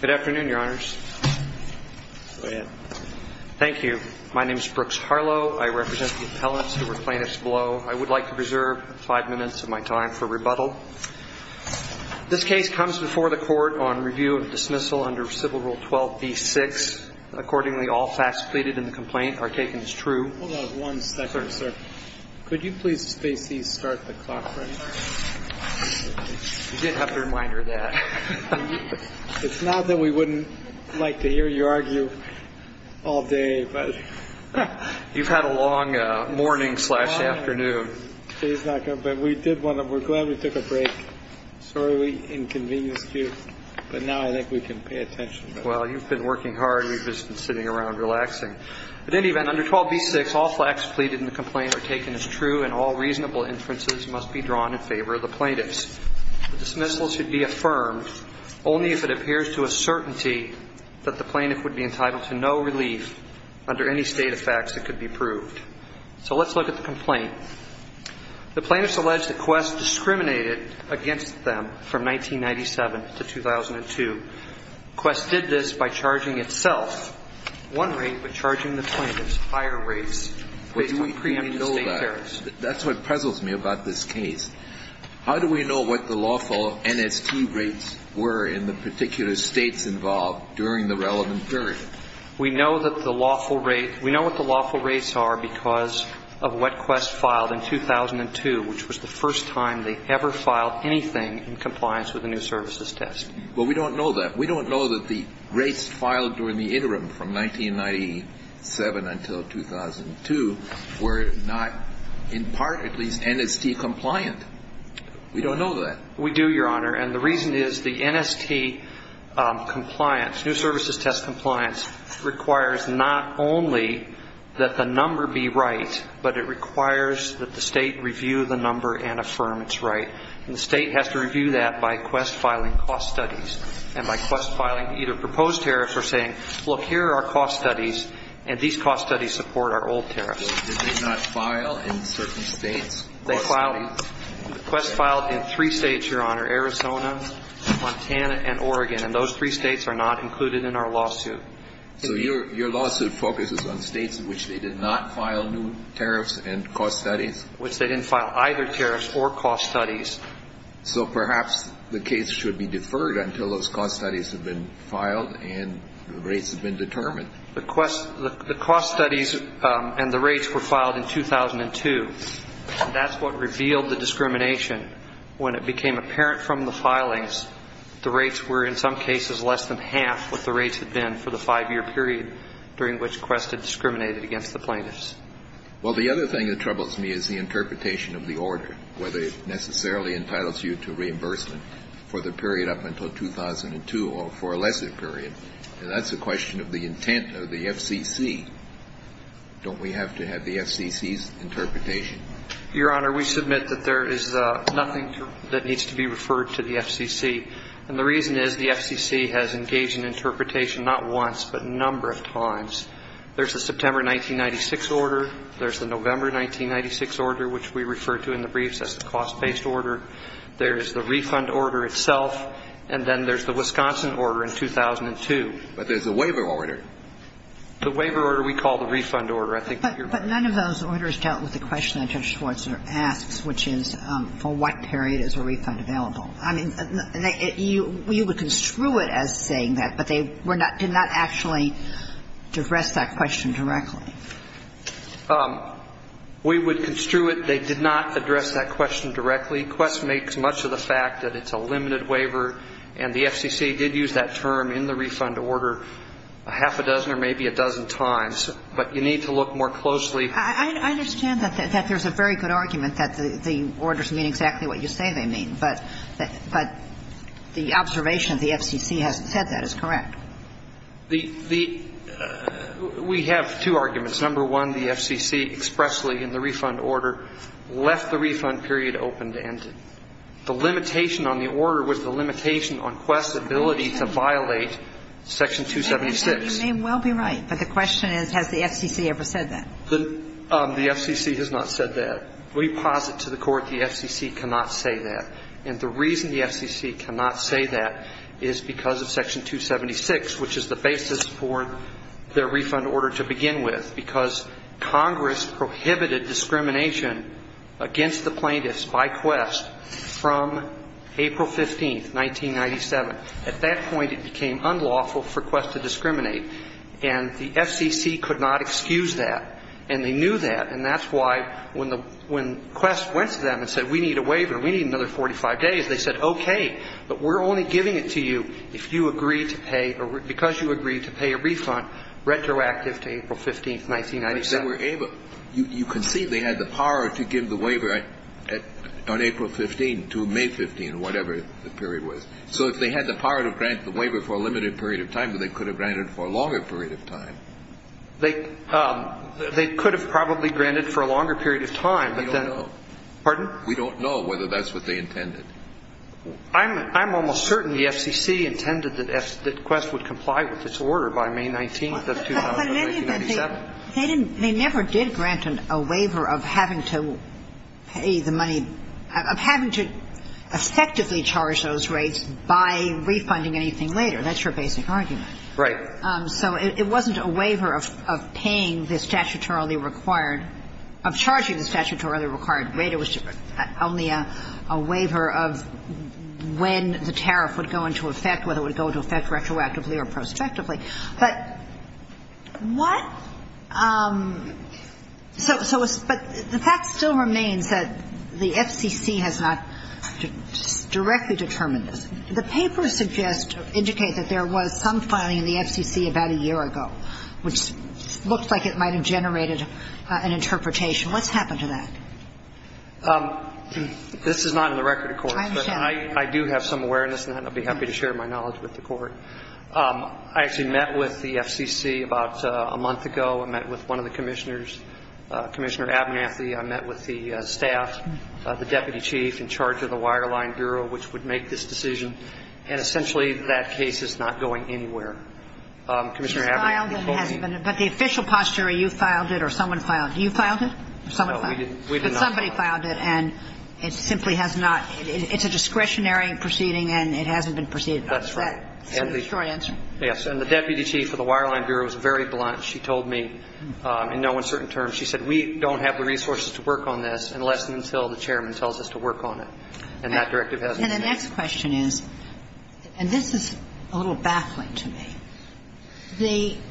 Good afternoon, Your Honors. Go ahead. Thank you. My name is Brooks Harlow. I represent the appellants who were plaintiffs below. I would like to preserve five minutes of my time for rebuttal. This case comes before the court on review of dismissal under Civil Rule 12b-6. Accordingly, all facts pleaded in the complaint are taken as true. Hold on one second, sir. Could you please space these, start the clock for me? You did have to remind her of that. It's not that we wouldn't like to hear you argue all day. You've had a long morning slash afternoon. We're glad we took a break. Sorry we inconvenienced you. But now I think we can pay attention. Well, you've been working hard. You've just been sitting around relaxing. At any event, under 12b-6, all facts pleaded in the complaint are taken as true, and all reasonable inferences must be drawn in favor of the plaintiffs. The dismissal should be affirmed only if it appears to a certainty that the plaintiff would be entitled to no relief under any state of facts that could be proved. So let's look at the complaint. The plaintiffs allege that Quest discriminated against them from 1997 to 2002. Quest did this by charging itself one rate, but charging the plaintiffs higher rates based on preemptive state tariffs. That's what puzzles me about this case. How do we know what the lawful NST rates were in the particular states involved during the relevant period? We know that the lawful rate – we know what the lawful rates are because of what Quest filed in 2002, which was the first time they ever filed anything in compliance with a new services test. Well, we don't know that. We don't know that the rates filed during the interim from 1997 until 2002 were not, in part at least, NST compliant. We don't know that. We do, Your Honor, and the reason is the NST compliance, new services test compliance, requires not only that the number be right, but it requires that the state review the number and affirm it's right. And the state has to review that by Quest filing cost studies. And by Quest filing either proposed tariffs or saying, look, here are our cost studies, and these cost studies support our old tariffs. So did they not file in certain states cost studies? They filed – Quest filed in three states, Your Honor, Arizona, Montana, and Oregon. And those three states are not included in our lawsuit. So your lawsuit focuses on states in which they did not file new tariffs and cost studies? In which they didn't file either tariffs or cost studies. So perhaps the case should be deferred until those cost studies have been filed and the rates have been determined. The Quest – the cost studies and the rates were filed in 2002, and that's what revealed the discrimination. When it became apparent from the filings, the rates were in some cases less than half what the rates had been for the five-year period during which Quest had discriminated against the plaintiffs. Well, the other thing that troubles me is the interpretation of the order, whether it necessarily entitles you to reimbursement for the period up until 2002 or for a lesser period. And that's a question of the intent of the FCC. Don't we have to have the FCC's interpretation? Your Honor, we submit that there is nothing that needs to be referred to the FCC. And the reason is the FCC has engaged in interpretation not once but a number of times. There's the September 1996 order. There's the November 1996 order, which we refer to in the briefs as the cost-based order. There's the refund order itself, and then there's the Wisconsin order in 2002. But there's a waiver order. The waiver order we call the refund order. I think that you're right. But none of those orders dealt with the question that Judge Schwarzer asks, which is, for what period is a refund available? I mean, you would construe it as saying that, but they were not – did not actually address that question directly. We would construe it, they did not address that question directly. Quest makes much of the fact that it's a limited waiver, and the FCC did use that term in the refund order a half a dozen or maybe a dozen times. But you need to look more closely. I understand that there's a very good argument that the orders mean exactly what you say they mean. But the observation of the FCC hasn't said that is correct. The – we have two arguments. Number one, the FCC expressly in the refund order left the refund period open to end it. The limitation on the order was the limitation on Quest's ability to violate Section 276. You may well be right, but the question is, has the FCC ever said that? The FCC has not said that. We posit to the Court the FCC cannot say that. And the reason the FCC cannot say that is because of Section 276, which is the basis for their refund order to begin with. Because Congress prohibited discrimination against the plaintiffs by Quest from April 15th, 1997. At that point, it became unlawful for Quest to discriminate. And the FCC could not excuse that. And they knew that. And that's why, when Quest went to them and said, we need a waiver, we need another 45 days, they said, okay, but we're only giving it to you if you agree to pay – or because you agree to pay a refund retroactive to April 15th, 1997. But they were able – you can see they had the power to give the waiver on April 15th to May 15th, or whatever the period was. So if they had the power to grant the waiver for a limited period of time, they could have granted it for a longer period of time. They could have probably granted for a longer period of time, but then – We don't know. Pardon? We don't know whether that's what they intended. I'm almost certain the FCC intended that Quest would comply with its order by May 19th of 1997. But they never did grant a waiver of having to pay the money – of having to effectively charge those rates by refunding anything later. That's your basic argument. Right. So it wasn't a waiver of paying the statutorily required – of charging the statutorily required rate. It was only a waiver of when the tariff would go into effect, whether it would go into effect retroactively or prospectively. But what – so – but the fact still remains that the FCC has not directly determined this. The papers suggest – indicate that there was some filing in the FCC about a year ago, which looks like it might have generated an interpretation. What's happened to that? This is not in the record, of course. I understand. But I do have some awareness, and I'd be happy to share my knowledge with the Court. I actually met with the FCC about a month ago. I met with one of the commissioners, Commissioner Abernathy. I met with the staff, the deputy chief in charge of the Wireline Bureau, which would make this decision. And essentially, that case is not going anywhere. Commissioner Abernathy told me – It's filed and it hasn't been – but the official posture, you filed it or someone filed it. You filed it or someone filed it? No, we did not file it. But somebody filed it, and it simply has not – it's a discretionary proceeding, and it hasn't been proceeded. That's right. Is that the short answer? Yes. And the deputy chief of the Wireline Bureau was very blunt. She told me in no uncertain terms – she said, we don't have the resources to work on this unless and until the chairman tells us to work on it. And that directive hasn't been – And the next question is – and this is a little baffling to me. The –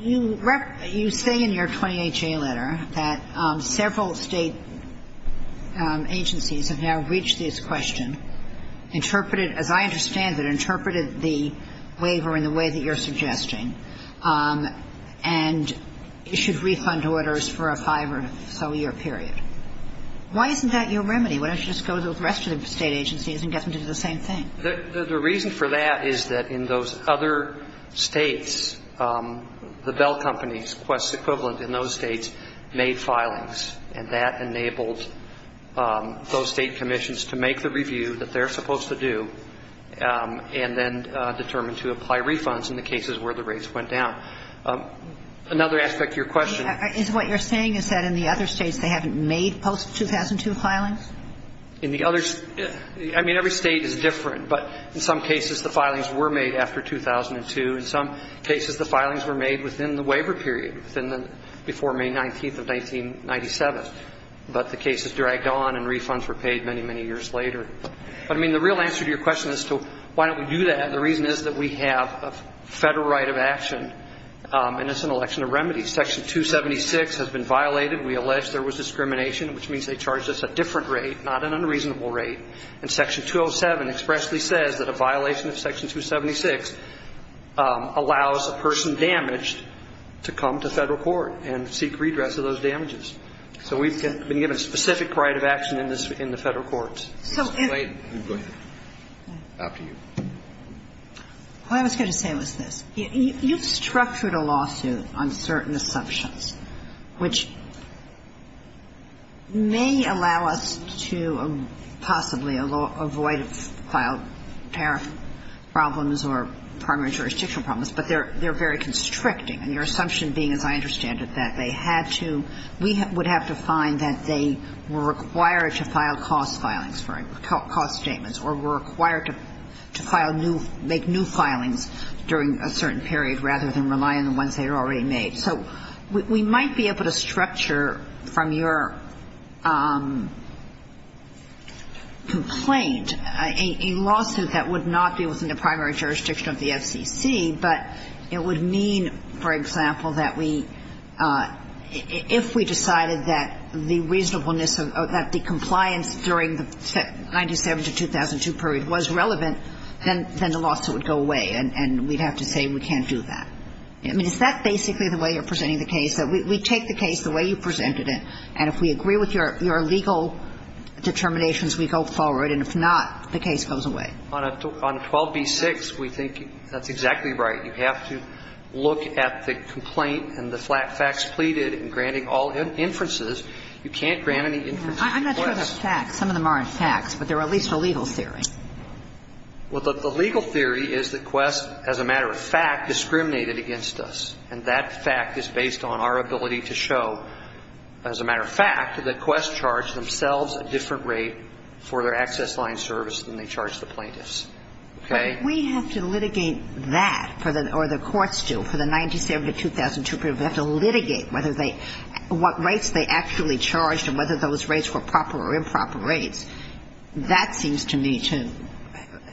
you say in your 20HA letter that several State agencies have now reached this question, interpreted – as I understand it, interpreted the waiver in the way that you're suggesting, and issued refund orders for a five-or-so-year period. Why isn't that your remedy? Why don't you just go to the rest of the State agencies and get them to do the same thing? The reason for that is that in those other States, the Bell Companies, Quest's equivalent in those States, made filings. And that enabled those State commissions to make the review that they're supposed to do and then determine to apply refunds in the cases where the rates went down. Another aspect of your question – Is what you're saying is that in the other States they haven't made post-2002 filings? In the other – I mean, every State is different, but in some cases the filings were made after 2002. In some cases the filings were made within the waiver period, within the – before May 19th of 1997. But the cases dragged on and refunds were paid many, many years later. But, I mean, the real answer to your question as to why don't we do that, the reason is that we have a Federal right of action, and it's an election of remedies. Section 276 has been violated. We allege there was discrimination, which means they charged us a different rate, not an unreasonable rate. And Section 207 expressly says that a violation of Section 276 allows a person damaged to come to Federal court and seek redress of those damages. So we've been given specific right of action in the Federal courts. So if – Go ahead. After you. All I was going to say was this. You've structured a lawsuit on certain assumptions, which may allow us to possibly avoid filed tariff problems or primary jurisdictional problems, but they're very constricting. And your assumption being, as I understand it, that they had to – we would have to find that they were required to file cost filings, right, cost statements, or were required to file new – make new filings during a certain period rather than rely on the ones they had already made. So we might be able to structure from your complaint a lawsuit that would not be within the primary jurisdiction of the FCC, but it would mean, for example, that we – if we decided that the reasonableness of – that the compliance during the 97-2002 period was relevant, then the lawsuit would go away, and we'd have to say we can't do that. I mean, is that basically the way you're presenting the case, that we take the case the way you presented it, and if we agree with your legal determinations, we go forward, and if not, the case goes away? On 12b-6, we think that's exactly right. You have to look at the complaint and the facts pleaded and granting all inferences. You can't grant any inferences. I'm not sure of the facts. Some of them aren't facts, but they're at least a legal theory. Well, the legal theory is that Quest, as a matter of fact, discriminated against us, and that fact is based on our ability to show, as a matter of fact, that Quest charged themselves a different rate for their access line service than they charged the plaintiffs. Okay? But we have to litigate that, or the courts do, for the 97-2002 period. We have to litigate whether they – what rights they actually charged and whether those rates were proper or improper rates. That seems to me to –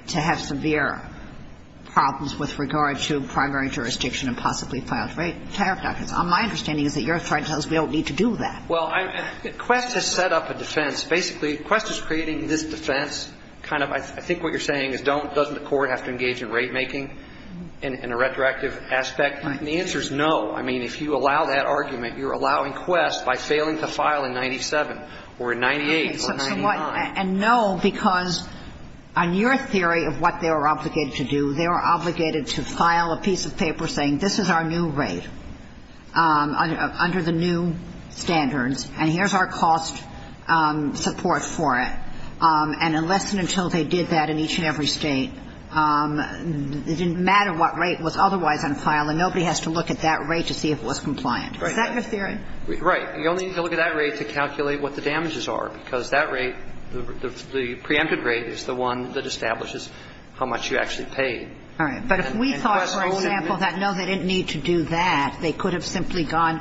to have severe problems with regard to primary jurisdiction and possibly filed rate tariff documents. My understanding is that your threat tells us we don't need to do that. Well, Quest has set up a defense. Basically, Quest is creating this defense, kind of, I think what you're saying is don't – doesn't the court have to engage in rate-making in a retroactive aspect? Right. And the answer is no. I mean, if you allow that argument, you're allowing Quest by failing to file in 97 or in 98 or 99. So what – and no, because on your theory of what they were obligated to do, they were obligated to file a piece of paper saying this is our new rate under the new standards, and here's our cost support for it. And unless and until they did that in each and every State, it didn't matter what So we have to look at that rate to see if it was compliant. Right. Is that your theory? Right. You only need to look at that rate to calculate what the damages are, because that rate, the preempted rate is the one that establishes how much you actually paid. All right. But if we thought, for example, that no, they didn't need to do that, they could have simply gone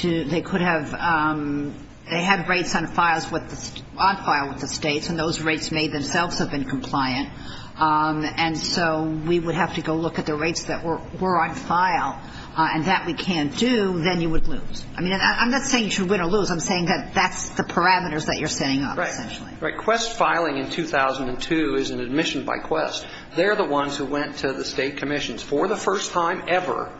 to – they could have – they had rates on files with the – on file with the States, and those rates may themselves have been compliant, and so we would have to go look at the rates that were on file. And that we can't do, then you would lose. I mean, I'm not saying you should win or lose. I'm saying that that's the parameters that you're setting up, essentially. Right. Right. Quest filing in 2002 is an admission by Quest. They're the ones who went to the State commissions for the first time ever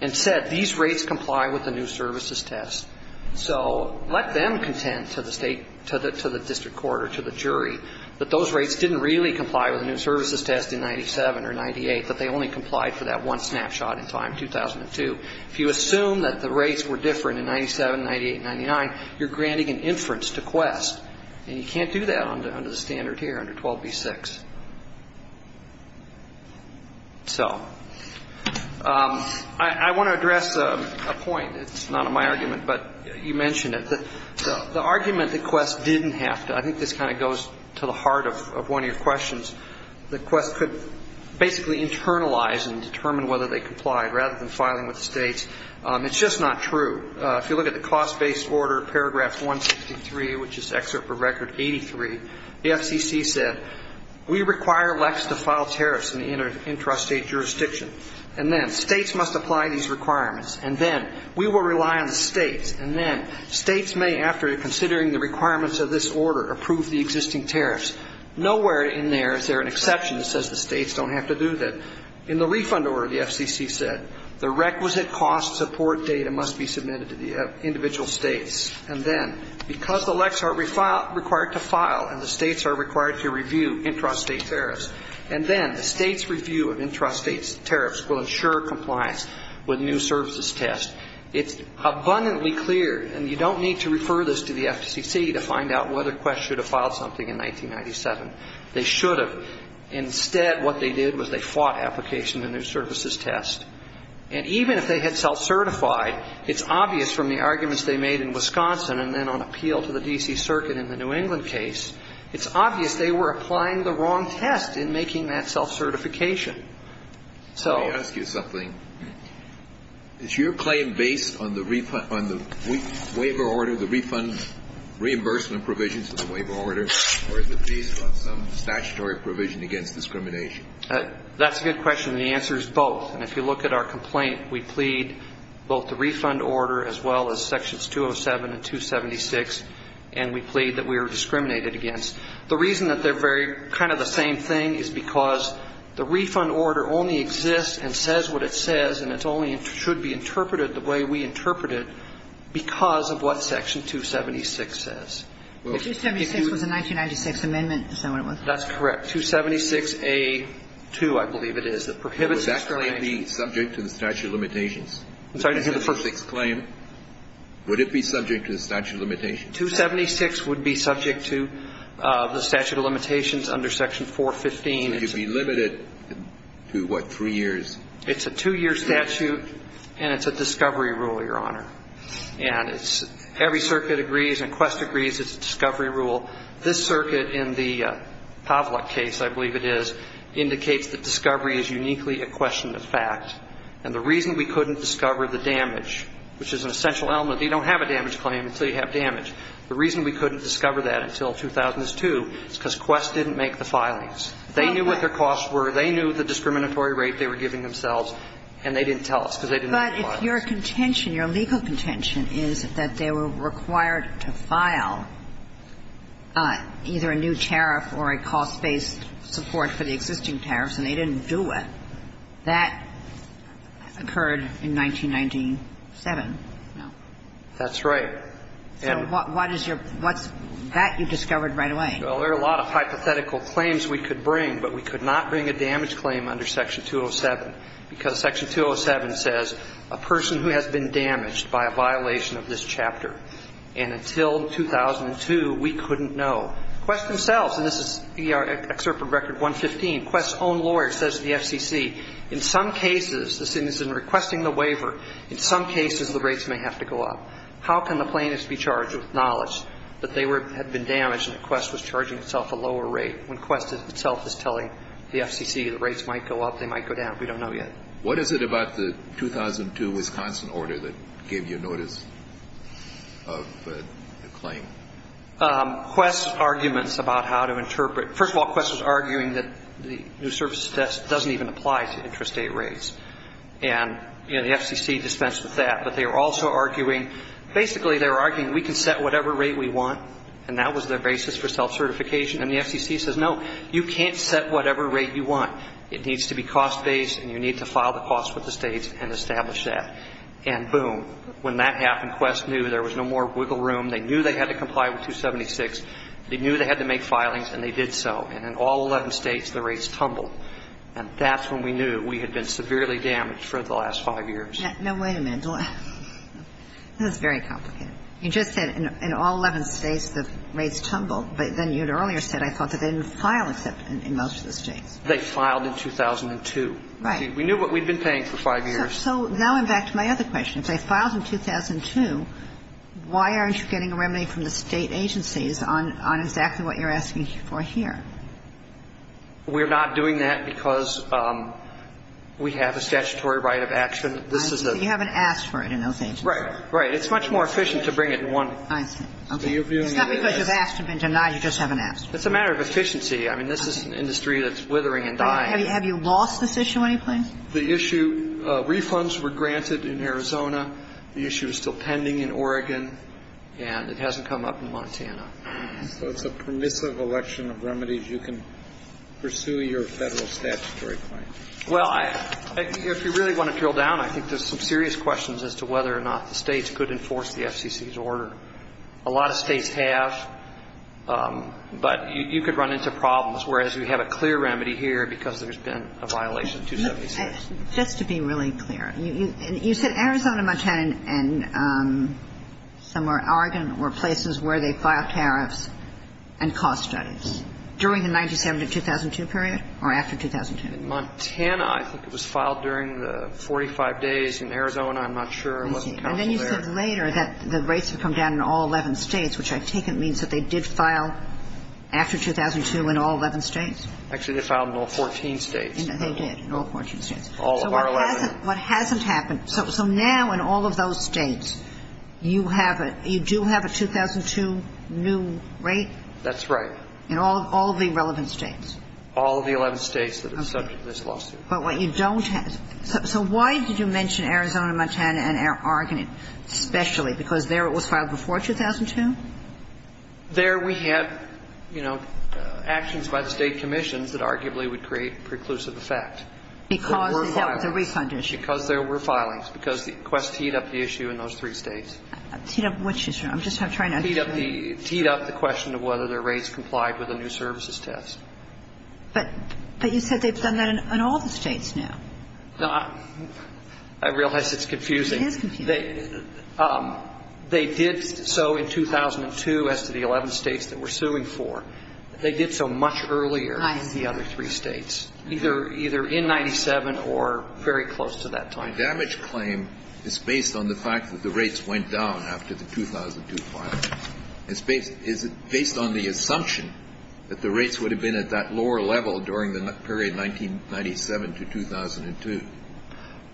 and said, these rates comply with the new services test. So let them contend to the State – to the district court or to the jury that those rates didn't really comply with the new services test in 97 or 98, that they only complied for that one snapshot in time, 2002. If you assume that the rates were different in 97, 98, and 99, you're granting an inference to Quest. And you can't do that under the standard here, under 12b-6. So I want to address a point. It's not in my argument, but you mentioned it. The argument that Quest didn't have to – I think this kind of goes to the heart of one of your questions – that Quest could basically internalize and determine whether they complied rather than filing with the States. It's just not true. If you look at the cost-based order, paragraph 163, which is excerpt for record 83, the FCC said, we require LECs to file tariffs in the intrastate jurisdiction. And then States must apply these requirements. And then we will rely on the States. And then States may, after considering the requirements of this order, approve the existing tariffs. Nowhere in there is there an exception that says the States don't have to do that. In the refund order, the FCC said, the requisite cost support data must be submitted to the individual States. And then, because the LECs are required to file and the States are required to review intrastate tariffs, and then the States' review of intrastate tariffs will ensure compliance with new services test. It's abundantly clear, and you don't need to refer this to the FCC to find out whether Quest should have filed something in 1997. They should have. Instead, what they did was they fought application in their services test. And even if they had self-certified, it's obvious from the arguments they made in Wisconsin and then on appeal to the D.C. Circuit in the New England case, it's obvious they were applying the wrong test in making that self-certification. So. Let me ask you something. Is your claim based on the waiver order, the refund reimbursement provision to the waiver order, or is it based on some statutory provision against discrimination? That's a good question. And the answer is both. And if you look at our complaint, we plead both the refund order as well as Sections 207 and 276, and we plead that we are discriminated against. The reason that they're very kind of the same thing is because the refund order only exists and says what it says, and it only should be interpreted the way we interpret it because of what Section 276 says. Well, excuse me. But 276 was a 1996 amendment, is that what it was? That's correct. 276A2, I believe it is, that prohibits discrimination. Was that claim subject to the statute of limitations? I'm sorry. The 276 claim, would it be subject to the statute of limitations? 276 would be subject to the statute of limitations under Section 415. So it would be limited to, what, three years? It's a two-year statute, and it's a discovery rule, Your Honor. And every circuit agrees and Quest agrees it's a discovery rule. This circuit in the Pavlik case, I believe it is, indicates that discovery is uniquely a question of fact. And the reason we couldn't discover the damage, which is an essential element. You don't have a damage claim until you have damage. The reason we couldn't discover that until 2002 is because Quest didn't make the filings. They knew what their costs were. They knew the discriminatory rate they were giving themselves, and they didn't tell us because they didn't make the filings. But if your contention, your legal contention is that they were required to file either a new tariff or a cost-based support for the existing tariffs, and they didn't do it, that occurred in 1997, no? That's right. So what is your – what's that you discovered right away? Well, there are a lot of hypothetical claims we could bring, but we could not bring a damage claim under Section 207, because Section 207 says a person who has been damaged by a violation of this chapter. And until 2002, we couldn't know. Quest themselves – and this is excerpt from Record 115. Quest's own lawyer says to the FCC, in some cases, this is in requesting the waiver, in some cases the rates may have to go up. How can the plaintiff be charged with knowledge that they had been damaged and that Quest was charging itself a lower rate when Quest itself is telling the FCC the rates might go up, they might go down? We don't know yet. What is it about the 2002 Wisconsin order that gave you notice of the claim? Quest's arguments about how to interpret – first of all, Quest was arguing that the new services test doesn't even apply to intrastate rates. And, you know, the FCC dispensed with that. But they were also arguing – basically they were arguing we can set whatever rate we want, and that was their basis for self-certification. And the FCC says, no, you can't set whatever rate you want. It needs to be cost-based, and you need to file the cost with the states and establish that. And boom, when that happened, Quest knew there was no more wiggle room. They knew they had to comply with 276. They knew they had to make filings, and they did so. And in all 11 states, the rates tumbled. And that's when we knew we had been severely damaged for the last five years. Now, wait a minute. That's very complicated. You just said in all 11 states the rates tumbled. But then you had earlier said, I thought they didn't file except in most of the states. They filed in 2002. Right. We knew what we'd been paying for five years. So now I'm back to my other question. If they filed in 2002, why aren't you getting a remedy from the State agencies on exactly what you're asking for here? We're not doing that because we have a statutory right of action. I see. So you haven't asked for it in those agencies. Right. Right. It's much more efficient to bring it in one. I see. Okay. It's not because you've asked and been denied. You just haven't asked for it. It's a matter of efficiency. I mean, this is an industry that's withering and dying. Have you lost this issue anyplace? The issue, refunds were granted in Arizona. The issue is still pending in Oregon. And it hasn't come up in Montana. So it's a permissive election of remedies. You can pursue your Federal statutory claim. Well, if you really want to drill down, I think there's some serious questions as to whether or not the states could enforce the FCC's order. A lot of states have. But you could run into problems. Whereas we have a clear remedy here because there's been a violation, 276. Just to be really clear. You said Arizona, Montana, and somewhere, Oregon, were places where they filed tariffs and cost studies during the 1997 to 2002 period or after 2002? Montana, I think it was filed during the 45 days in Arizona. I'm not sure. I wasn't counsel there. And then you said later that the rates had come down in all 11 states, which I take it means that they did file after 2002 in all 11 states? Actually, they filed in all 14 states. They did, in all 14 states. All of our 11. So what hasn't happened? So now in all of those states, you have a – you do have a 2002 new rate? That's right. In all of the relevant states? All of the 11 states that are subject to this lawsuit. Okay. But what you don't have – so why did you mention Arizona, Montana, and Oregon especially? Because there it was filed before 2002? There we had, you know, actions by the State commissions that arguably would create preclusive effect. Because there was a refund issue. Because there were filings. Because the quest teed up the issue in those three states. Teed up which issue? I'm just trying to understand. Teed up the – teed up the question of whether the rates complied with the new services test. But you said they've done that in all the states now. I realize it's confusing. It is confusing. They did so in 2002 as to the 11 states that we're suing for. They did so much earlier in the other three states. Either in 97 or very close to that time. The damage claim is based on the fact that the rates went down after the 2002 filing. Is it based on the assumption that the rates would have been at that lower level during the period 1997 to 2002?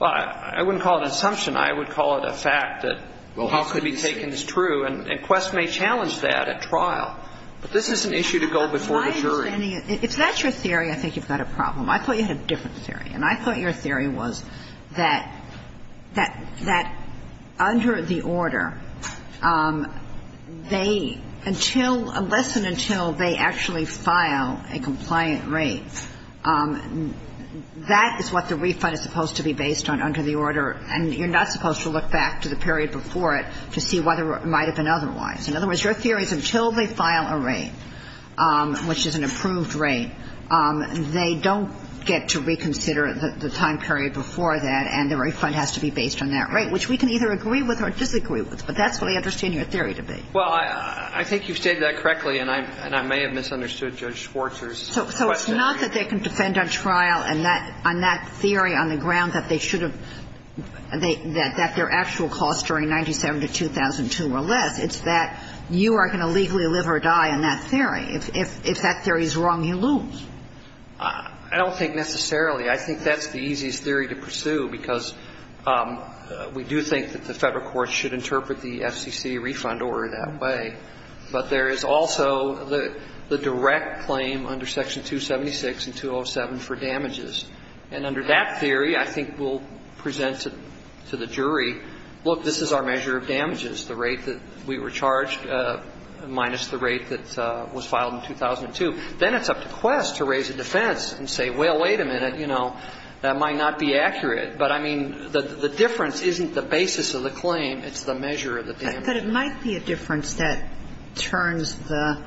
I wouldn't call it an assumption. I would call it a fact that how could it be taken as true. And Quest may challenge that at trial. But this is an issue to go before the jury. If that's your theory, I think you've got a problem. I thought you had a different theory. And I thought your theory was that under the order, they – unless and until they actually file a compliant rate, that is what the refund is supposed to be based on under the order. And you're not supposed to look back to the period before it to see why there might have been otherwise. In other words, your theory is until they file a rate, which is an approved rate, they don't get to reconsider the time period before that, and the refund has to be based on that rate, which we can either agree with or disagree with. But that's what I understand your theory to be. Well, I think you've stated that correctly, and I may have misunderstood Judge Schwarzer's question. So it's not that they can defend at trial on that theory on the ground that they should have – that their actual costs during 1997 to 2002 were less. It's that you are going to legally live or die on that theory. If that theory is wrong, you lose. I don't think necessarily. I think that's the easiest theory to pursue, because we do think that the Federal courts should interpret the FCC refund order that way. But there is also the direct claim under Section 276 and 207 for damages. And under that theory, I think we'll present to the jury, look, this is our measure of damages, the rate that we were charged minus the rate that was filed in 2002. Then it's up to Quest to raise a defense and say, well, wait a minute, you know, that might not be accurate. But, I mean, the difference isn't the basis of the claim. It's the measure of the damages. But it might be a difference that turns the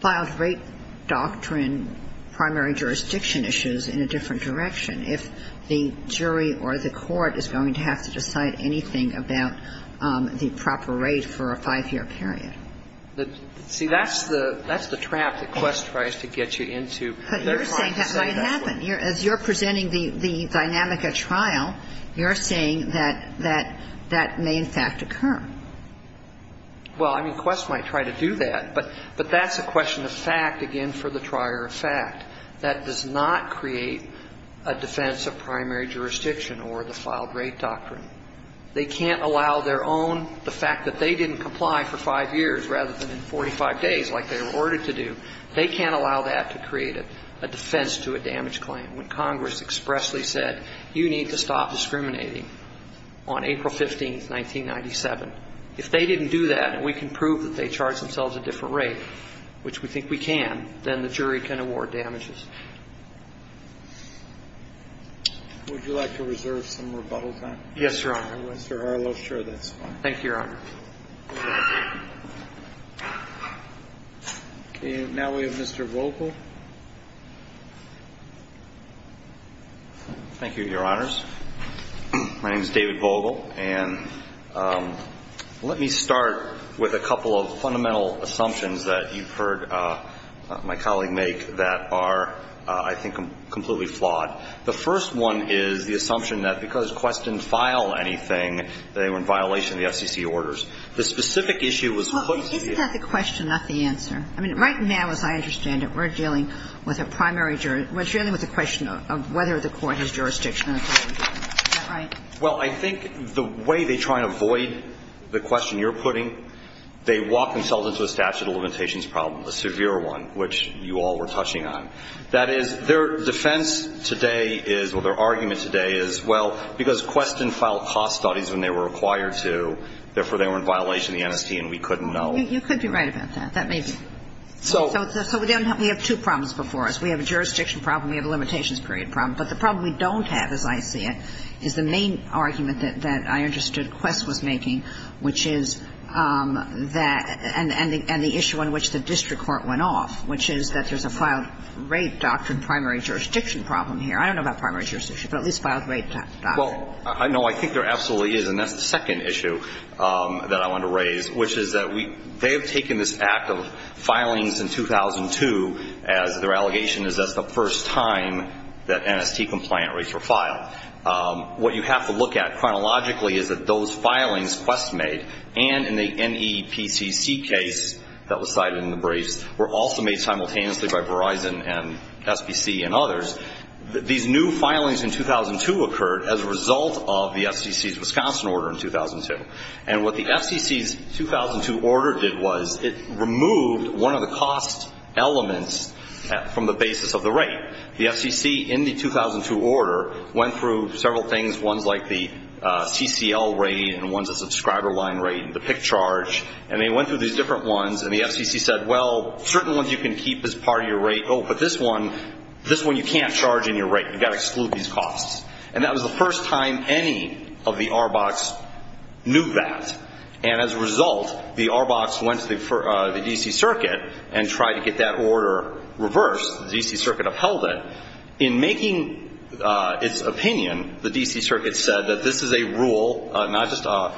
filed rate doctrine primary jurisdiction issues in a different direction if the jury or the court is going to have to decide anything about the proper rate for a five-year period. See, that's the trap that Quest tries to get you into. But you're saying that might happen. As you're presenting the dynamic at trial, you're saying that that may in fact occur. Well, I mean, Quest might try to do that. But that's a question of fact, again, for the trier of fact. That does not create a defense of primary jurisdiction or the filed rate doctrine. They can't allow their own, the fact that they didn't comply for five years rather than in 45 days like they were ordered to do, they can't allow that to create a defense to a damage claim. When Congress expressly said you need to stop discriminating on April 15, 1997, if they didn't do that and we can prove that they charged themselves a different rate, which we think we can, then the jury can award damages. Would you like to reserve some rebuttal time? Yes, Your Honor. Mr. Harlow, sure, that's fine. Thank you, Your Honor. Okay. Now we have Mr. Vogel. Thank you, Your Honors. My name is David Vogel, and let me start with a couple of fundamental assumptions that you've heard my colleague make that are, I think, completely flawed. The first one is the assumption that because Quest didn't file anything, they were in violation of the FCC orders. The specific issue was put to you. Well, isn't that the question, not the answer? I mean, right now, as I understand it, we're dealing with a primary jury. We're dealing with a question of whether the court has jurisdiction in a primary jury. Is that right? Well, I think the way they try and avoid the question you're putting, they walk themselves into a statute of limitations problem, a severe one, which you all were touching on. That is, their defense today is, well, their argument today is, well, because Quest didn't file cost studies when they were required to, therefore, they were in violation of the NST and we couldn't know. Well, you could be right about that. That may be. So we have two problems before us. We have a jurisdiction problem. We have a limitations period problem. But the problem we don't have, as I see it, is the main argument that I understood Quest was making, which is that and the issue on which the district court went off, which is that there's a filed rape doctrine primary jurisdiction problem here. I don't know about primary jurisdiction, but at least filed rape doctrine. Well, no, I think there absolutely is, and that's the second issue that I want to raise, which is that they have taken this act of filings in 2002 as their allegation is that's the first time that NST compliant rapes were filed. What you have to look at chronologically is that those filings Quest made and in the NEPCC case that was cited in the briefs were also made simultaneously by Verizon and SPC and others. These new filings in 2002 occurred as a result of the FCC's Wisconsin order in 2002. And what the FCC's 2002 order did was it removed one of the cost elements from the basis of the rape. The FCC in the 2002 order went through several things, ones like the CCL rate and ones of subscriber line rate and the PIC charge. And they went through these different ones. And the FCC said, well, certain ones you can keep as part of your rape. Oh, but this one, this one you can't charge in your rape. You've got to exclude these costs. And that was the first time any of the RBOCs knew that. And as a result, the RBOCs went to the D.C. Circuit and tried to get that order reversed. The D.C. Circuit upheld it. In making its opinion, the D.C. Circuit said that this is a rule, not just a,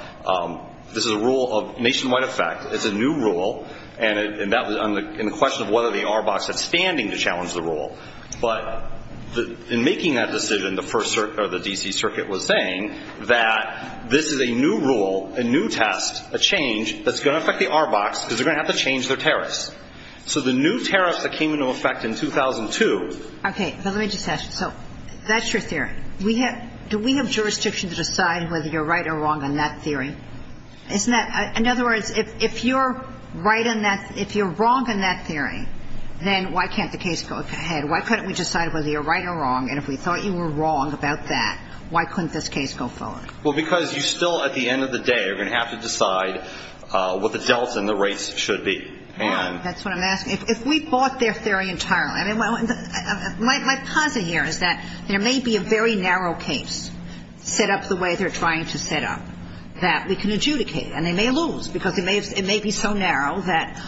this is a rule of nationwide effect. It's a new rule. And that was in the question of whether the RBOCs had standing to challenge the rule. But in making that decision, the first, or the D.C. Circuit was saying that this is a new rule, a new test, a change that's going to affect the RBOCs because they're going to have to change their tariffs. So the new tariffs that came into effect in 2002. Okay. But let me just ask you. So that's your theory. We have, do we have jurisdiction to decide whether you're right or wrong on that theory? Isn't that, in other words, if you're right on that, if you're wrong on that theory, then why can't the case go ahead? Why couldn't we decide whether you're right or wrong? And if we thought you were wrong about that, why couldn't this case go forward? Well, because you still, at the end of the day, are going to have to decide what the delta and the rates should be. And that's what I'm asking. If we bought their theory entirely. I mean, my posit here is that there may be a very narrow case set up the way they're trying to set up that we can adjudicate. And they may lose because it may be so narrow that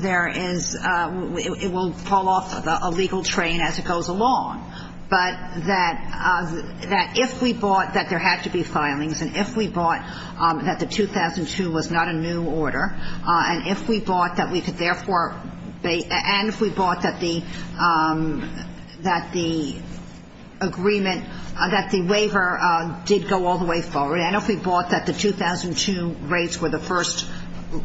there is, it will fall off a legal train as it goes along. But that if we bought that there had to be filings, and if we bought that the 2002 was not a new order, and if we bought that we could therefore, and if we bought that the agreement, that the waiver did go all the way forward, and if we bought that the 2002 rates were the first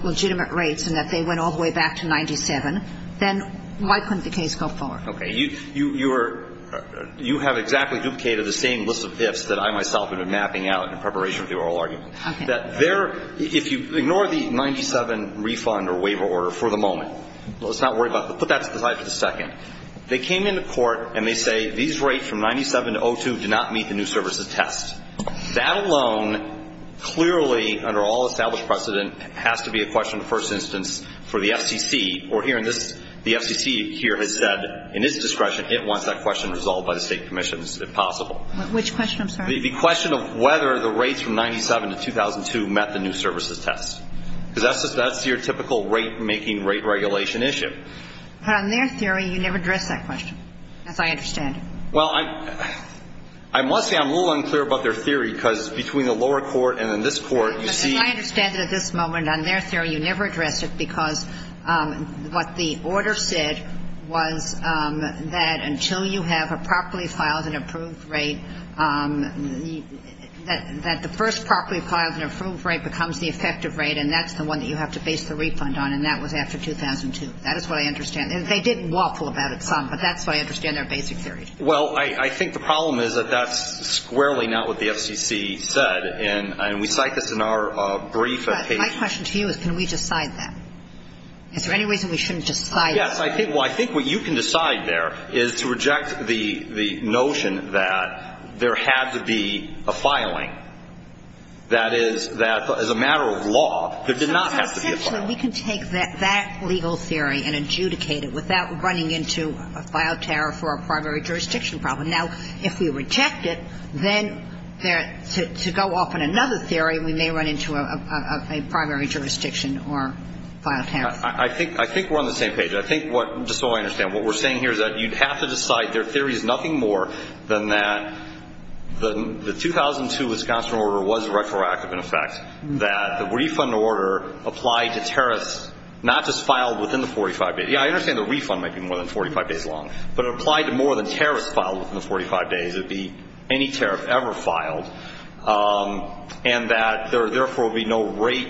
legitimate rates and that they went all the way back to 97, then why couldn't the case go forward? Okay. You are, you have exactly duplicated the same list of ifs that I myself have been mapping out in preparation for the oral argument. Okay. That there, if you ignore the 97 refund or waiver order for the moment, let's not worry about it. Put that aside for a second. They came into court and they say these rates from 97 to 02 do not meet the new services test. That alone clearly under all established precedent has to be a question of first instance for the FCC. We're hearing this, the FCC here has said in its discretion it wants that question resolved by the state commissions if possible. Which question, I'm sorry? The question of whether the rates from 97 to 2002 met the new services test. Because that's your typical rate making rate regulation issue. But on their theory, you never address that question, as I understand it. Well, I must say I'm a little unclear about their theory, because between the lower court and then this court, you see. As I understand it at this moment, on their theory, you never address it, because what the order said was that until you have a properly filed and approved rate, that the first properly filed and approved rate becomes the effective rate, and that's the one that you have to base the refund on, and that was after 2002. That is what I understand. And they did waffle about it some, but that's what I understand their basic theory. Well, I think the problem is that that's squarely not what the FCC said, and we cite this in our brief. My question to you is can we decide that? Is there any reason we shouldn't decide that? Well, I think what you can decide there is to reject the notion that there had to be a filing. That is, that as a matter of law, there did not have to be a filing. So essentially, we can take that legal theory and adjudicate it without running into a file tariff or a primary jurisdiction problem. Now, if we reject it, then to go off on another theory, we may run into a primary jurisdiction or file tariff. I think we're on the same page. I think what we're saying here is that you'd have to decide their theory is nothing more than that the 2002 Wisconsin order was retroactive in effect, that the refund order applied to tariffs not just filed within the 45 days. Yeah, I understand the refund might be more than 45 days long, but it applied to more than tariffs filed within the 45 days. It would be any tariff ever filed, and that there, therefore, would be no rate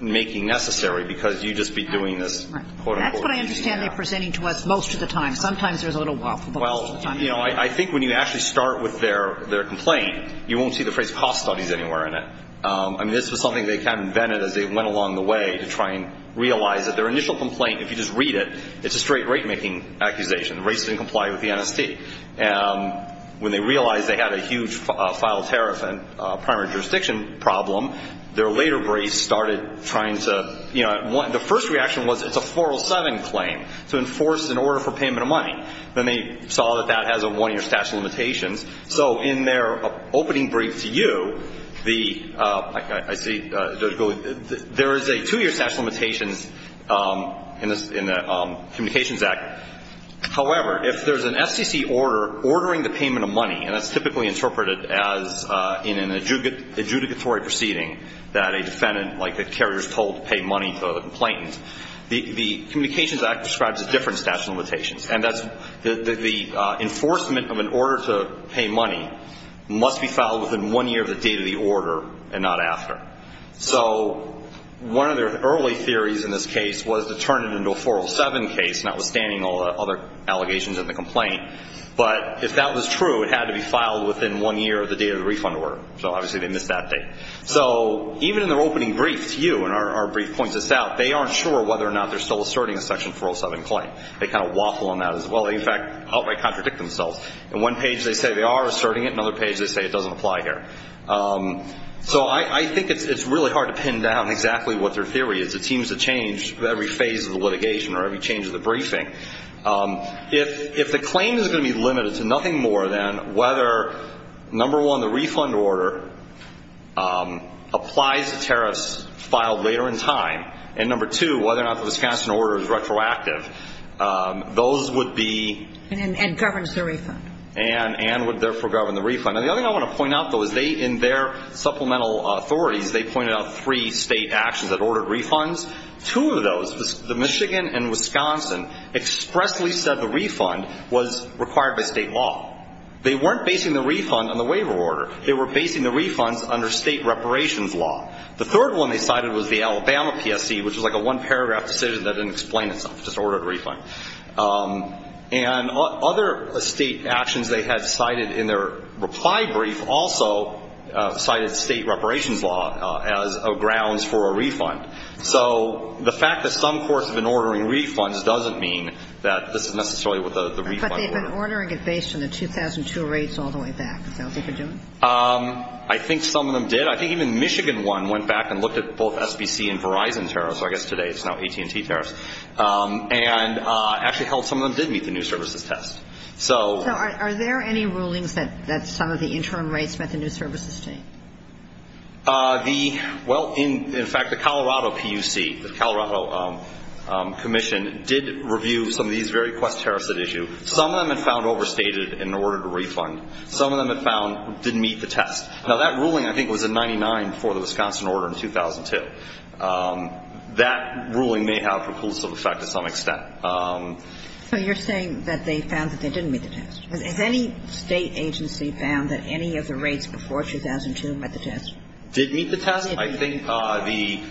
making necessary because you'd just be doing this, quote, unquote. That's what I understand they're presenting to us most of the time. Sometimes there's a little waffle, but most of the time it's not. I think when you actually start with their complaint, you won't see the phrase cost studies anywhere in it. I mean, this was something they kind of invented as they went along the way to try and realize that their initial complaint, if you just read it, it's a straight rate making accusation. The rates didn't comply with the NST. When they realized they had a huge file tariff and primary jurisdiction problem, their later brace started trying to – the first reaction was it's a 407 claim to enforce an order for payment of money. Then they saw that that has a one-year statute of limitations. So in their opening brief to you, the – I see – there is a two-year statute of limitations in the Communications Act. However, if there's an SEC order ordering the payment of money, and that's typically interpreted as in an adjudicatory proceeding that a defendant, like a carrier, is told to pay money to the complainant, the Communications Act describes a different statute of limitations, and that's the enforcement of an order to pay money must be filed within one year of the date of the order and not after. So one of their early theories in this case was to turn it into a 407 case, notwithstanding all the other allegations in the complaint. But if that was true, it had to be filed within one year of the date of the refund order. So obviously they missed that date. So even in their opening brief to you, and our brief points this out, they aren't sure whether or not they're still asserting a Section 407 claim. They kind of waffle on that as well. In fact, outright contradict themselves. In one page they say they are asserting it. In another page they say it doesn't apply here. So I think it's really hard to pin down exactly what their theory is. It seems to change with every phase of the litigation or every change of the briefing. If the claim is going to be limited to nothing more than whether, number one, the refund order applies to tariffs filed later in time, and, number two, whether or not the Wisconsin order is retroactive, those would be... And governs the refund. And would therefore govern the refund. And the other thing I want to point out, though, is they, in their supplemental authorities, they pointed out three state actions that ordered refunds. Two of those was the Michigan and Wisconsin expressly said the refund was required by state law. They weren't basing the refund on the waiver order. They were basing the refunds under state reparations law. The third one they cited was the Alabama PSC, which was like a one-paragraph decision that didn't explain itself, just ordered a refund. And other state actions they had cited in their reply brief also cited state reparations law as grounds for a refund. So the fact that some courts have been ordering refunds doesn't mean that this is necessarily the refund order. But they've been ordering it based on the 2002 rates all the way back. Is that what they've been doing? I think some of them did. I think even Michigan won, went back and looked at both SBC and Verizon tariffs, or I guess today it's now AT&T tariffs, and actually held some of them did meet the new services test. So are there any rulings that some of the interim rates met the new services state? Well, in fact, the Colorado PUC, the Colorado Commission, did review some of these very quest-terraced issues. Some of them it found overstated in order to refund. Some of them it found didn't meet the test. Now, that ruling, I think, was in 99 for the Wisconsin order in 2002. That ruling may have a preclusive effect to some extent. So you're saying that they found that they didn't meet the test. Has any state agency found that any of the rates before 2002 met the test? Did meet the test? I think the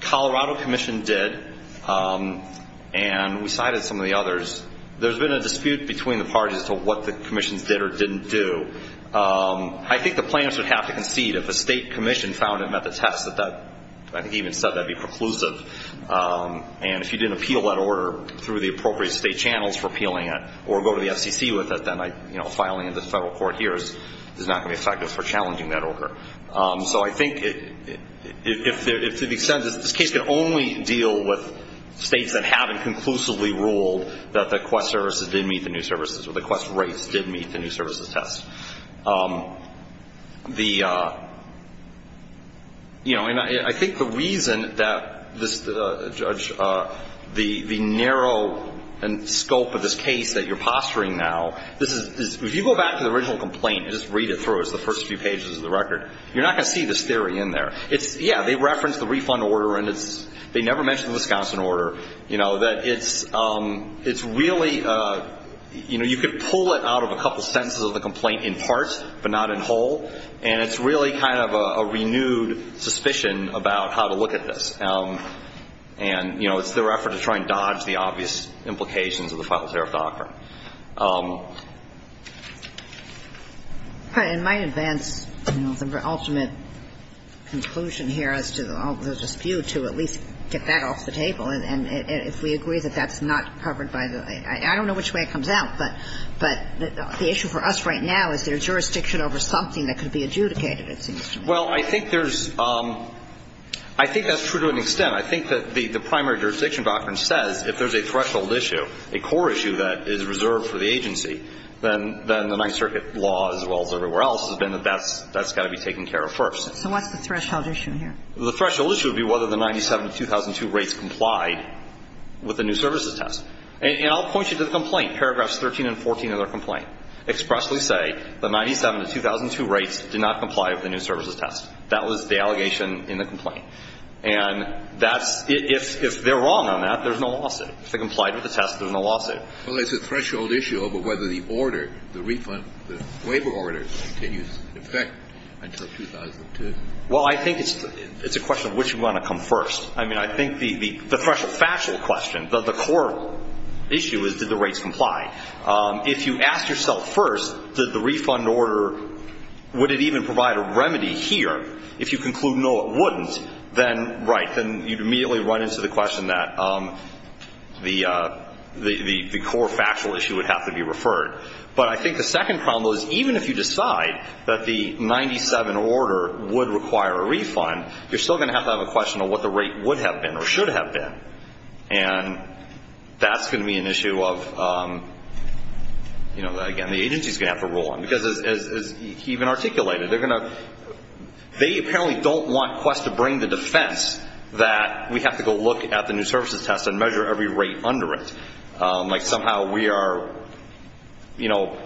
Colorado Commission did. And we cited some of the others. There's been a dispute between the parties as to what the commissions did or didn't do. I think the plaintiffs would have to concede if a state commission found it met the test, that that even said that would be preclusive. And if you didn't appeal that order through the appropriate state channels for appealing it or go to the FCC with it, then filing in the federal court here is not going to be effective for challenging that order. So I think to the extent that this case can only deal with states that haven't conclusively ruled that the quest services didn't meet the new services or the quest rates didn't meet the new services test. I think the reason that the narrow scope of this case that you're posturing now, if you go back to the original complaint and just read it through, it's the first few pages of the record, you're not going to see this theory in there. Yeah, they referenced the refund order and they never mentioned the Wisconsin order. You know, that it's really, you know, you could pull it out of a couple sentences of the complaint in parts, but not in whole, and it's really kind of a renewed suspicion about how to look at this. And, you know, it's their effort to try and dodge the obvious implications of the final tariff doctrine. It might advance the ultimate conclusion here as to the dispute to at least get that off the table and if we agree that that's not covered by the – I don't know which way it comes out, but the issue for us right now is there jurisdiction over something that could be adjudicated, it seems to me. Well, I think there's – I think that's true to an extent. I think that the primary jurisdiction doctrine says if there's a threshold issue, a core issue that is reserved for the agency, then the Ninth Circuit law as well as everywhere else has been that that's got to be taken care of first. So what's the threshold issue here? The threshold issue would be whether the 97-2002 rates complied with the new services test. And I'll point you to the complaint, paragraphs 13 and 14 of their complaint, expressly say the 97-2002 rates did not comply with the new services test. That was the allegation in the complaint. And that's – if they're wrong on that, there's no lawsuit. If they complied with the test, there's no lawsuit. Well, it's a threshold issue over whether the order, the refund, the waiver order continues in effect until 2002. Well, I think it's a question of which you want to come first. I mean, I think the threshold – factual question, the core issue is did the rates comply. If you ask yourself first, did the refund order – would it even provide a remedy here, if you conclude no, it wouldn't, then, right, then you'd immediately run into the question that the core factual issue would have to be referred. But I think the second problem is even if you decide that the 97 order would require a refund, you're still going to have to have a question of what the rate would have been or should have been. And that's going to be an issue of, you know, again, the agency's going to have to rule on. Because as he even articulated, they're going to – they apparently don't want Quest to bring the defense that we have to go look at the new services test and measure every rate under it. Like somehow we are, you know,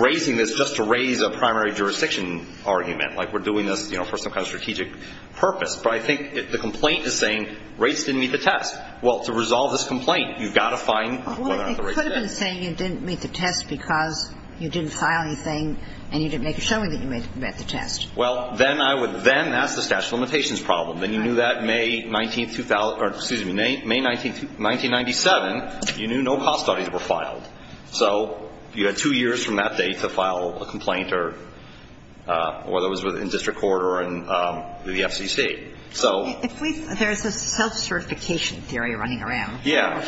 raising this just to raise a primary jurisdiction argument. Like we're doing this, you know, for some kind of strategic purpose. But I think the complaint is saying rates didn't meet the test. Well, to resolve this complaint, you've got to find whether or not the rates did. Well, it could have been saying it didn't meet the test because you didn't file anything and you didn't make a showing that you met the test. Well, then I would – then that's the statute of limitations problem. Then you knew that May 19 – excuse me, May 1997, you knew no cost studies were filed. So you had two years from that date to file a complaint or whether it was in district court or in the FCC. If we – there's a self-certification theory running around. Yeah.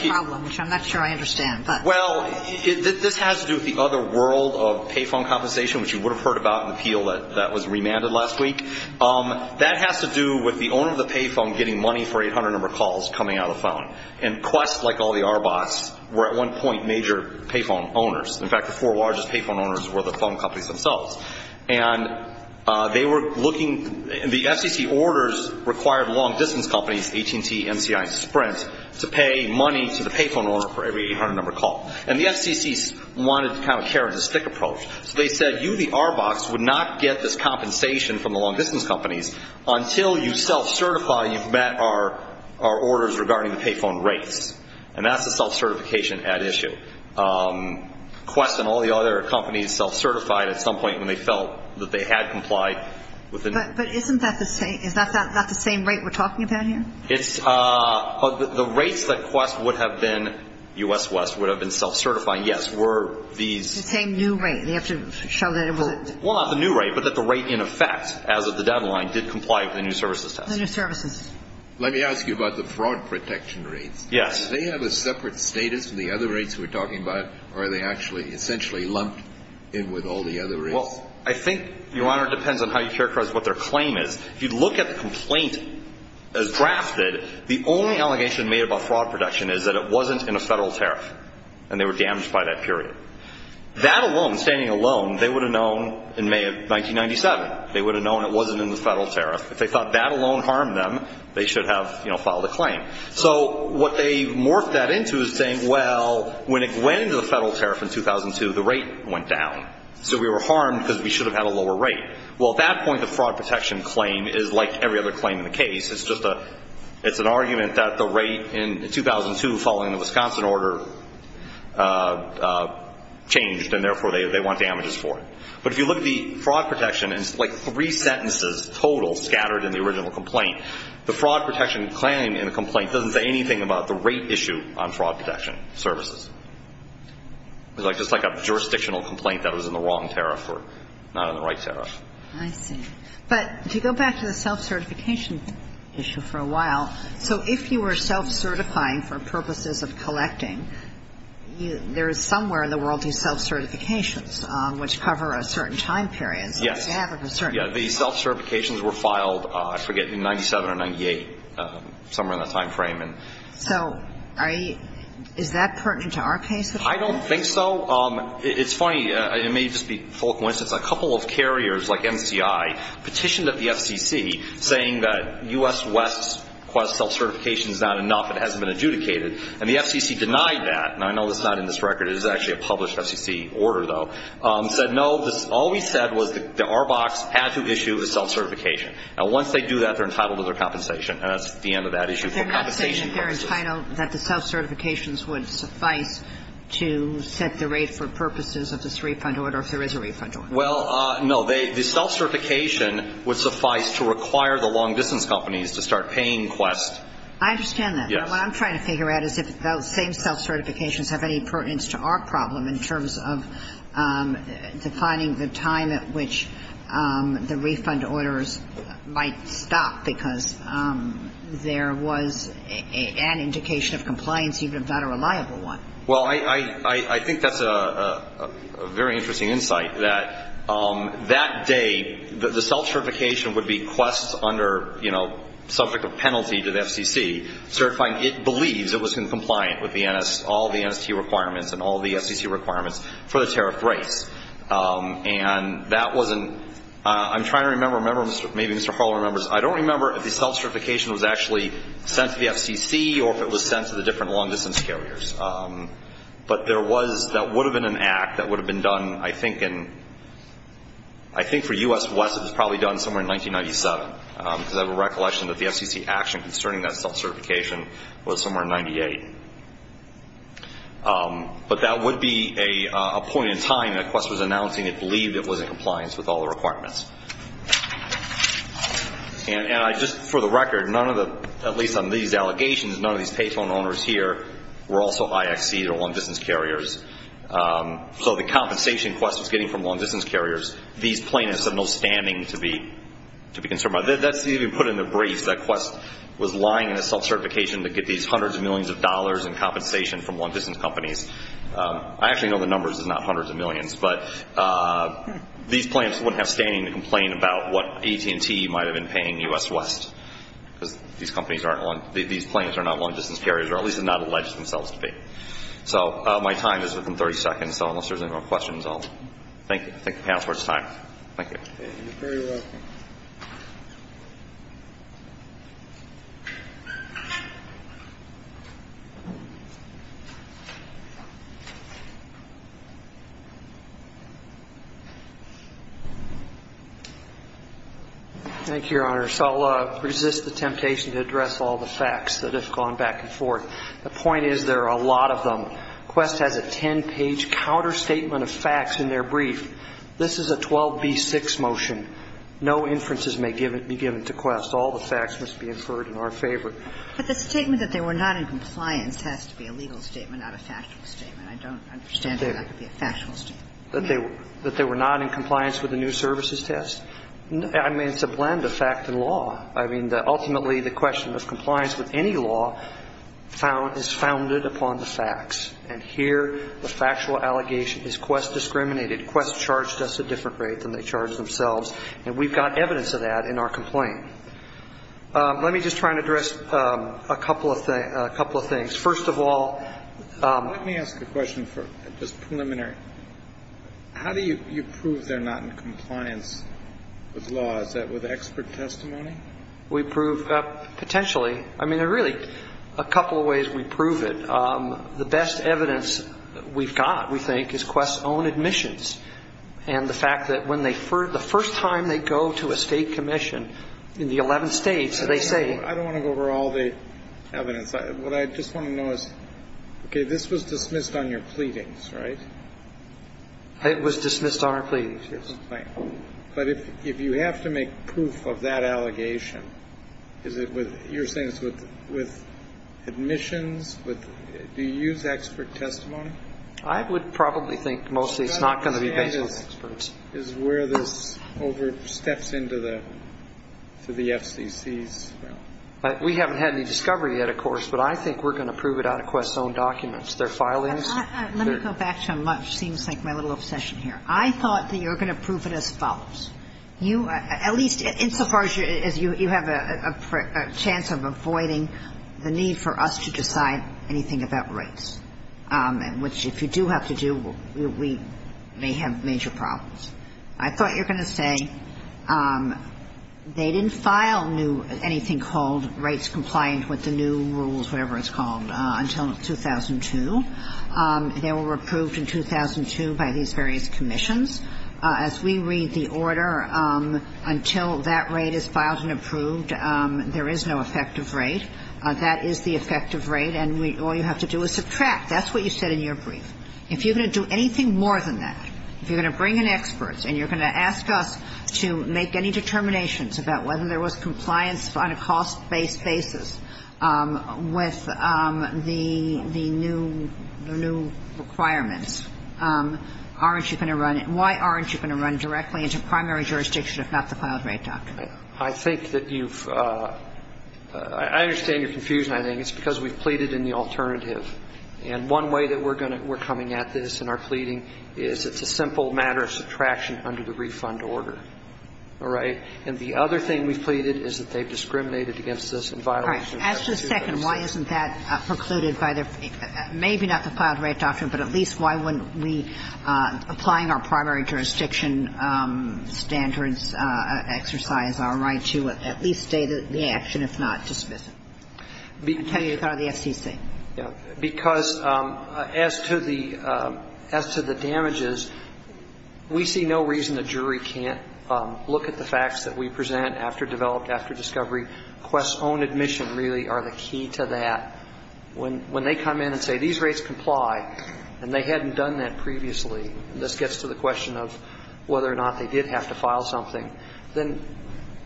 Which I'm not sure I understand. Well, this has to do with the other world of pay phone compensation, which you would have heard about in the appeal that was remanded last week. That has to do with the owner of the pay phone getting money for 800-number calls coming out of the phone. And Quest, like all the RBOCs, were at one point major pay phone owners. In fact, the four largest pay phone owners were the phone companies themselves. And they were looking – the FCC orders required long-distance companies, AT&T, MCI, and Sprint, to pay money to the pay phone owner for every 800-number call. And the FCC wanted kind of a carrot-and-stick approach. So they said you, the RBOCs, would not get this compensation from the long-distance companies until you self-certify and you've met our orders regarding the pay phone rates. And that's the self-certification at issue. Quest and all the other companies self-certified at some point when they felt that they had complied with the – But isn't that the same – is that not the same rate we're talking about here? It's – the rates that Quest would have been – U.S. West would have been self-certifying, yes, were these – It's the same new rate. We have to show that it was – Well, not the new rate, but that the rate in effect as of the deadline did comply with the new services test. The new services. Let me ask you about the fraud protection rates. Yes. Do they have a separate status from the other rates we're talking about, or are they actually essentially lumped in with all the other rates? Well, I think, Your Honor, it depends on how you characterize what their claim is. If you look at the complaint as drafted, the only allegation made about fraud protection is that it wasn't in a Federal tariff and they were damaged by that period. That alone, standing alone, they would have known in May of 1997. They would have known it wasn't in the Federal tariff. If they thought that alone harmed them, they should have filed a claim. So what they morphed that into is saying, well, when it went into the Federal tariff in 2002, the rate went down, so we were harmed because we should have had a lower rate. Well, at that point, the fraud protection claim is like every other claim in the case. It's just a – it's an argument that the rate in 2002 following the Wisconsin order changed and, therefore, they want damages for it. But if you look at the fraud protection, it's like three sentences total scattered in the original complaint. The fraud protection claim in the complaint doesn't say anything about the rate issue on fraud protection services. It's like a jurisdictional complaint that was in the wrong tariff or not in the right tariff. I see. But if you go back to the self-certification issue for a while, so if you were self-certifying for purposes of collecting, there is somewhere in the world these self-certifications which cover a certain time period. Yes. So you have a concern. Yeah. The self-certifications were filed, I forget, in 97 or 98, somewhere in that time frame. So are you – is that pertinent to our case at all? I don't think so. It's funny. It may just be a full coincidence. A couple of carriers like MCI petitioned at the FCC saying that U.S. West's self-certification is not enough, it hasn't been adjudicated. And the FCC denied that. And I know it's not in this record. It is actually a published FCC order, though. Said, no, all we said was the RBOCs had to issue a self-certification. And once they do that, they're entitled to their compensation. And that's the end of that issue for compensation purposes. They're not saying that they're entitled, that the self-certifications would suffice to set the rate for purposes of this refund order if there is a refund order. Well, no. The self-certification would suffice to require the long-distance companies to start paying Quest. I understand that. Yes. What I'm trying to figure out is if those same self-certifications have any pertinence to our problem in terms of defining the time at which the refund orders might stop because there was an indication of compliance, even if not a reliable one. Well, I think that's a very interesting insight, that that day the self- certification, subject of penalty to the FCC, certifying it believes it was compliant with all the NST requirements and all the FCC requirements for the tariff rates. And that wasn't, I'm trying to remember, maybe Mr. Harlow remembers, I don't remember if the self-certification was actually sent to the FCC or if it was sent to the different long-distance carriers. But there was, that would have been an act that would have been done I think in, I think for U.S. Quest it was probably done somewhere in 1997 because I have a recollection that the FCC action concerning that self-certification was somewhere in 98. But that would be a point in time that Quest was announcing it believed it was in compliance with all the requirements. And I just, for the record, none of the, at least on these allegations, none of these payphone owners here were also IXCs or long-distance carriers. So the compensation Quest was getting from long-distance carriers, these plaintiffs have no standing to be concerned about. That's even put in the briefs that Quest was lying in a self-certification to get these hundreds of millions of dollars in compensation from long-distance companies. I actually know the numbers, it's not hundreds of millions. But these plaintiffs wouldn't have standing to complain about what AT&T might have been paying U.S. West because these companies aren't, these plaintiffs are not long-distance carriers or at least are not alleged themselves to be. So my time is within 30 seconds, so unless there's any more questions, I'll thank you. I think the panel's worth its time. Thank you. You're very welcome. Thank you, Your Honor. So I'll resist the temptation to address all the facts that have gone back and forth. The point is there are a lot of them. Quest has a 10-page counterstatement of facts in their brief. This is a 12b-6 motion. No inferences may be given to Quest. All the facts must be inferred in our favor. But the statement that they were not in compliance has to be a legal statement, not a factual statement. I don't understand how that could be a factual statement. That they were not in compliance with the new services test? I mean, it's a blend of fact and law. And here the factual allegation is Quest discriminated. Quest charged us a different rate than they charged themselves. And we've got evidence of that in our complaint. Let me just try and address a couple of things. First of all ---- Let me ask a question for just preliminary. How do you prove they're not in compliance with law? Is that with expert testimony? We prove potentially. I mean, there are really a couple of ways we prove it. The best evidence we've got, we think, is Quest's own admissions and the fact that the first time they go to a state commission in the 11 states, they say ---- I don't want to go over all the evidence. What I just want to know is, okay, this was dismissed on your pleadings, right? It was dismissed on our pleadings, yes. But if you have to make proof of that allegation, is it with ---- you're saying it's with admissions? Do you use expert testimony? I would probably think mostly it's not going to be based on experts. Is where this oversteps into the FCC's realm? We haven't had any discovery yet, of course, but I think we're going to prove it out of Quest's own documents. Their filings ---- Let me go back to how much seems like my little obsession here. I thought that you were going to prove it as follows. At least insofar as you have a chance of avoiding the need for us to decide anything about rates, which if you do have to do, we may have major problems. I thought you were going to say they didn't file anything called rates compliant with the new rules, whatever it's called, until 2002. They were approved in 2002 by these various commissions. As we read the order, until that rate is filed and approved, there is no effective rate. That is the effective rate, and all you have to do is subtract. That's what you said in your brief. If you're going to do anything more than that, if you're going to bring in experts and you're going to ask us to make any determinations about whether there was compliance on a cost-based basis with the new requirements, aren't you going to run it? Why aren't you going to run directly into primary jurisdiction, if not the filed rate doctrine? I think that you've – I understand your confusion, I think. It's because we've pleaded in the alternative. And one way that we're going to – we're coming at this in our pleading is it's a simple matter of subtraction under the refund order. All right? And the other thing we've pleaded is that they've discriminated against us and violated the statute. All right. Ask for a second. Why isn't that precluded by the – maybe not the filed rate doctrine, but at least why wouldn't we, applying our primary jurisdiction standards, exercise our right to at least state the action, if not dismiss it? I'm telling you it's out of the FCC. Yeah. Because as to the – as to the damages, we see no reason the jury can't look at the facts that we present after developed, after discovery. Quest's own admission really are the key to that. When they come in and say these rates comply, and they hadn't done that previously, and this gets to the question of whether or not they did have to file something, then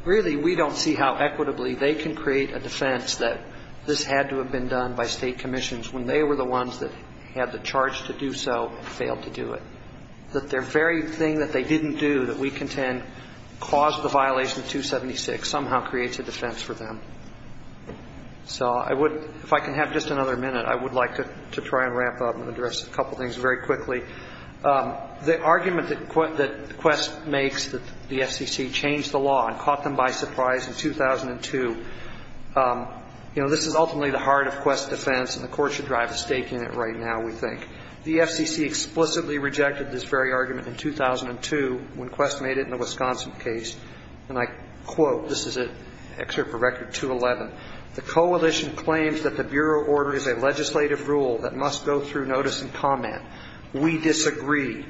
really we don't see how equitably they can create a defense that this had to have been done by state commissions when they were the ones that had the charge to do so and failed to do it. That their very thing that they didn't do that we contend caused the violation of 276 somehow creates a defense for them. So I would – if I can have just another minute, I would like to try and ramp up and address a couple things very quickly. The argument that Quest makes that the FCC changed the law and caught them by surprise in 2002, you know, this is ultimately the heart of Quest's defense, and the Court should drive a stake in it right now, we think. The FCC explicitly rejected this very argument in 2002 when Quest made it in the Wisconsin case. And I quote, this is an excerpt from Record 211, the coalition claims that the Bureau order is a legislative rule that must go through notice and comment. We disagree.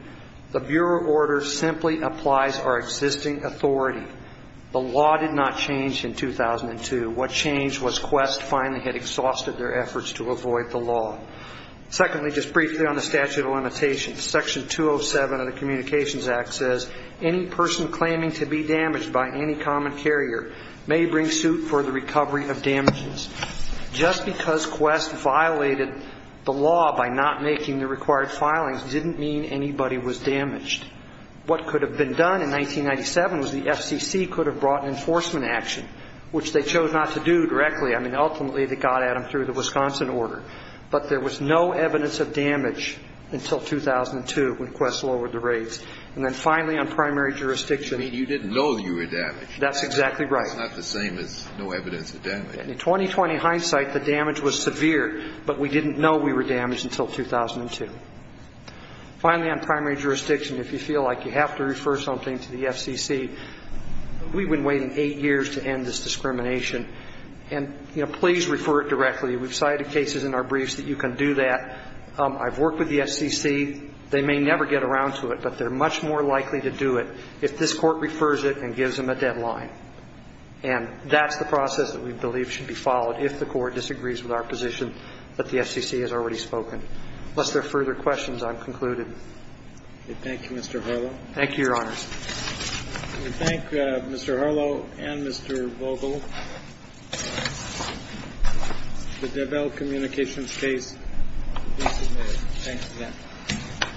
The Bureau order simply applies our existing authority. The law did not change in 2002. What changed was Quest finally had exhausted their efforts to avoid the law. Secondly, just briefly on the statute of limitations, Section 207 of the Communications Act says, any person claiming to be damaged by any common carrier may bring suit for the recovery of damages. Just because Quest violated the law by not making the required filings didn't mean anybody was damaged. What could have been done in 1997 was the FCC could have brought an enforcement action, which they chose not to do directly. I mean, ultimately they got at them through the Wisconsin order. But there was no evidence of damage until 2002 when Quest lowered the rates. And then finally on primary jurisdiction. I mean, you didn't know you were damaged. That's exactly right. That's not the same as no evidence of damage. In 2020 hindsight, the damage was severe, but we didn't know we were damaged until 2002. Finally, on primary jurisdiction, if you feel like you have to refer something to the FCC, we've been waiting eight years to end this discrimination. And, you know, please refer it directly. We've cited cases in our briefs that you can do that. I've worked with the FCC. They may never get around to it, but they're much more likely to do it if this Court refers it and gives them a deadline. And that's the process that we believe should be followed if the Court disagrees with our position that the FCC has already spoken. Unless there are further questions, I'm concluded. Thank you, Mr. Harlow. Thank you, Your Honors. We thank Mr. Harlow and Mr. Vogel. The DeVal Communications case is submitted. Thanks again.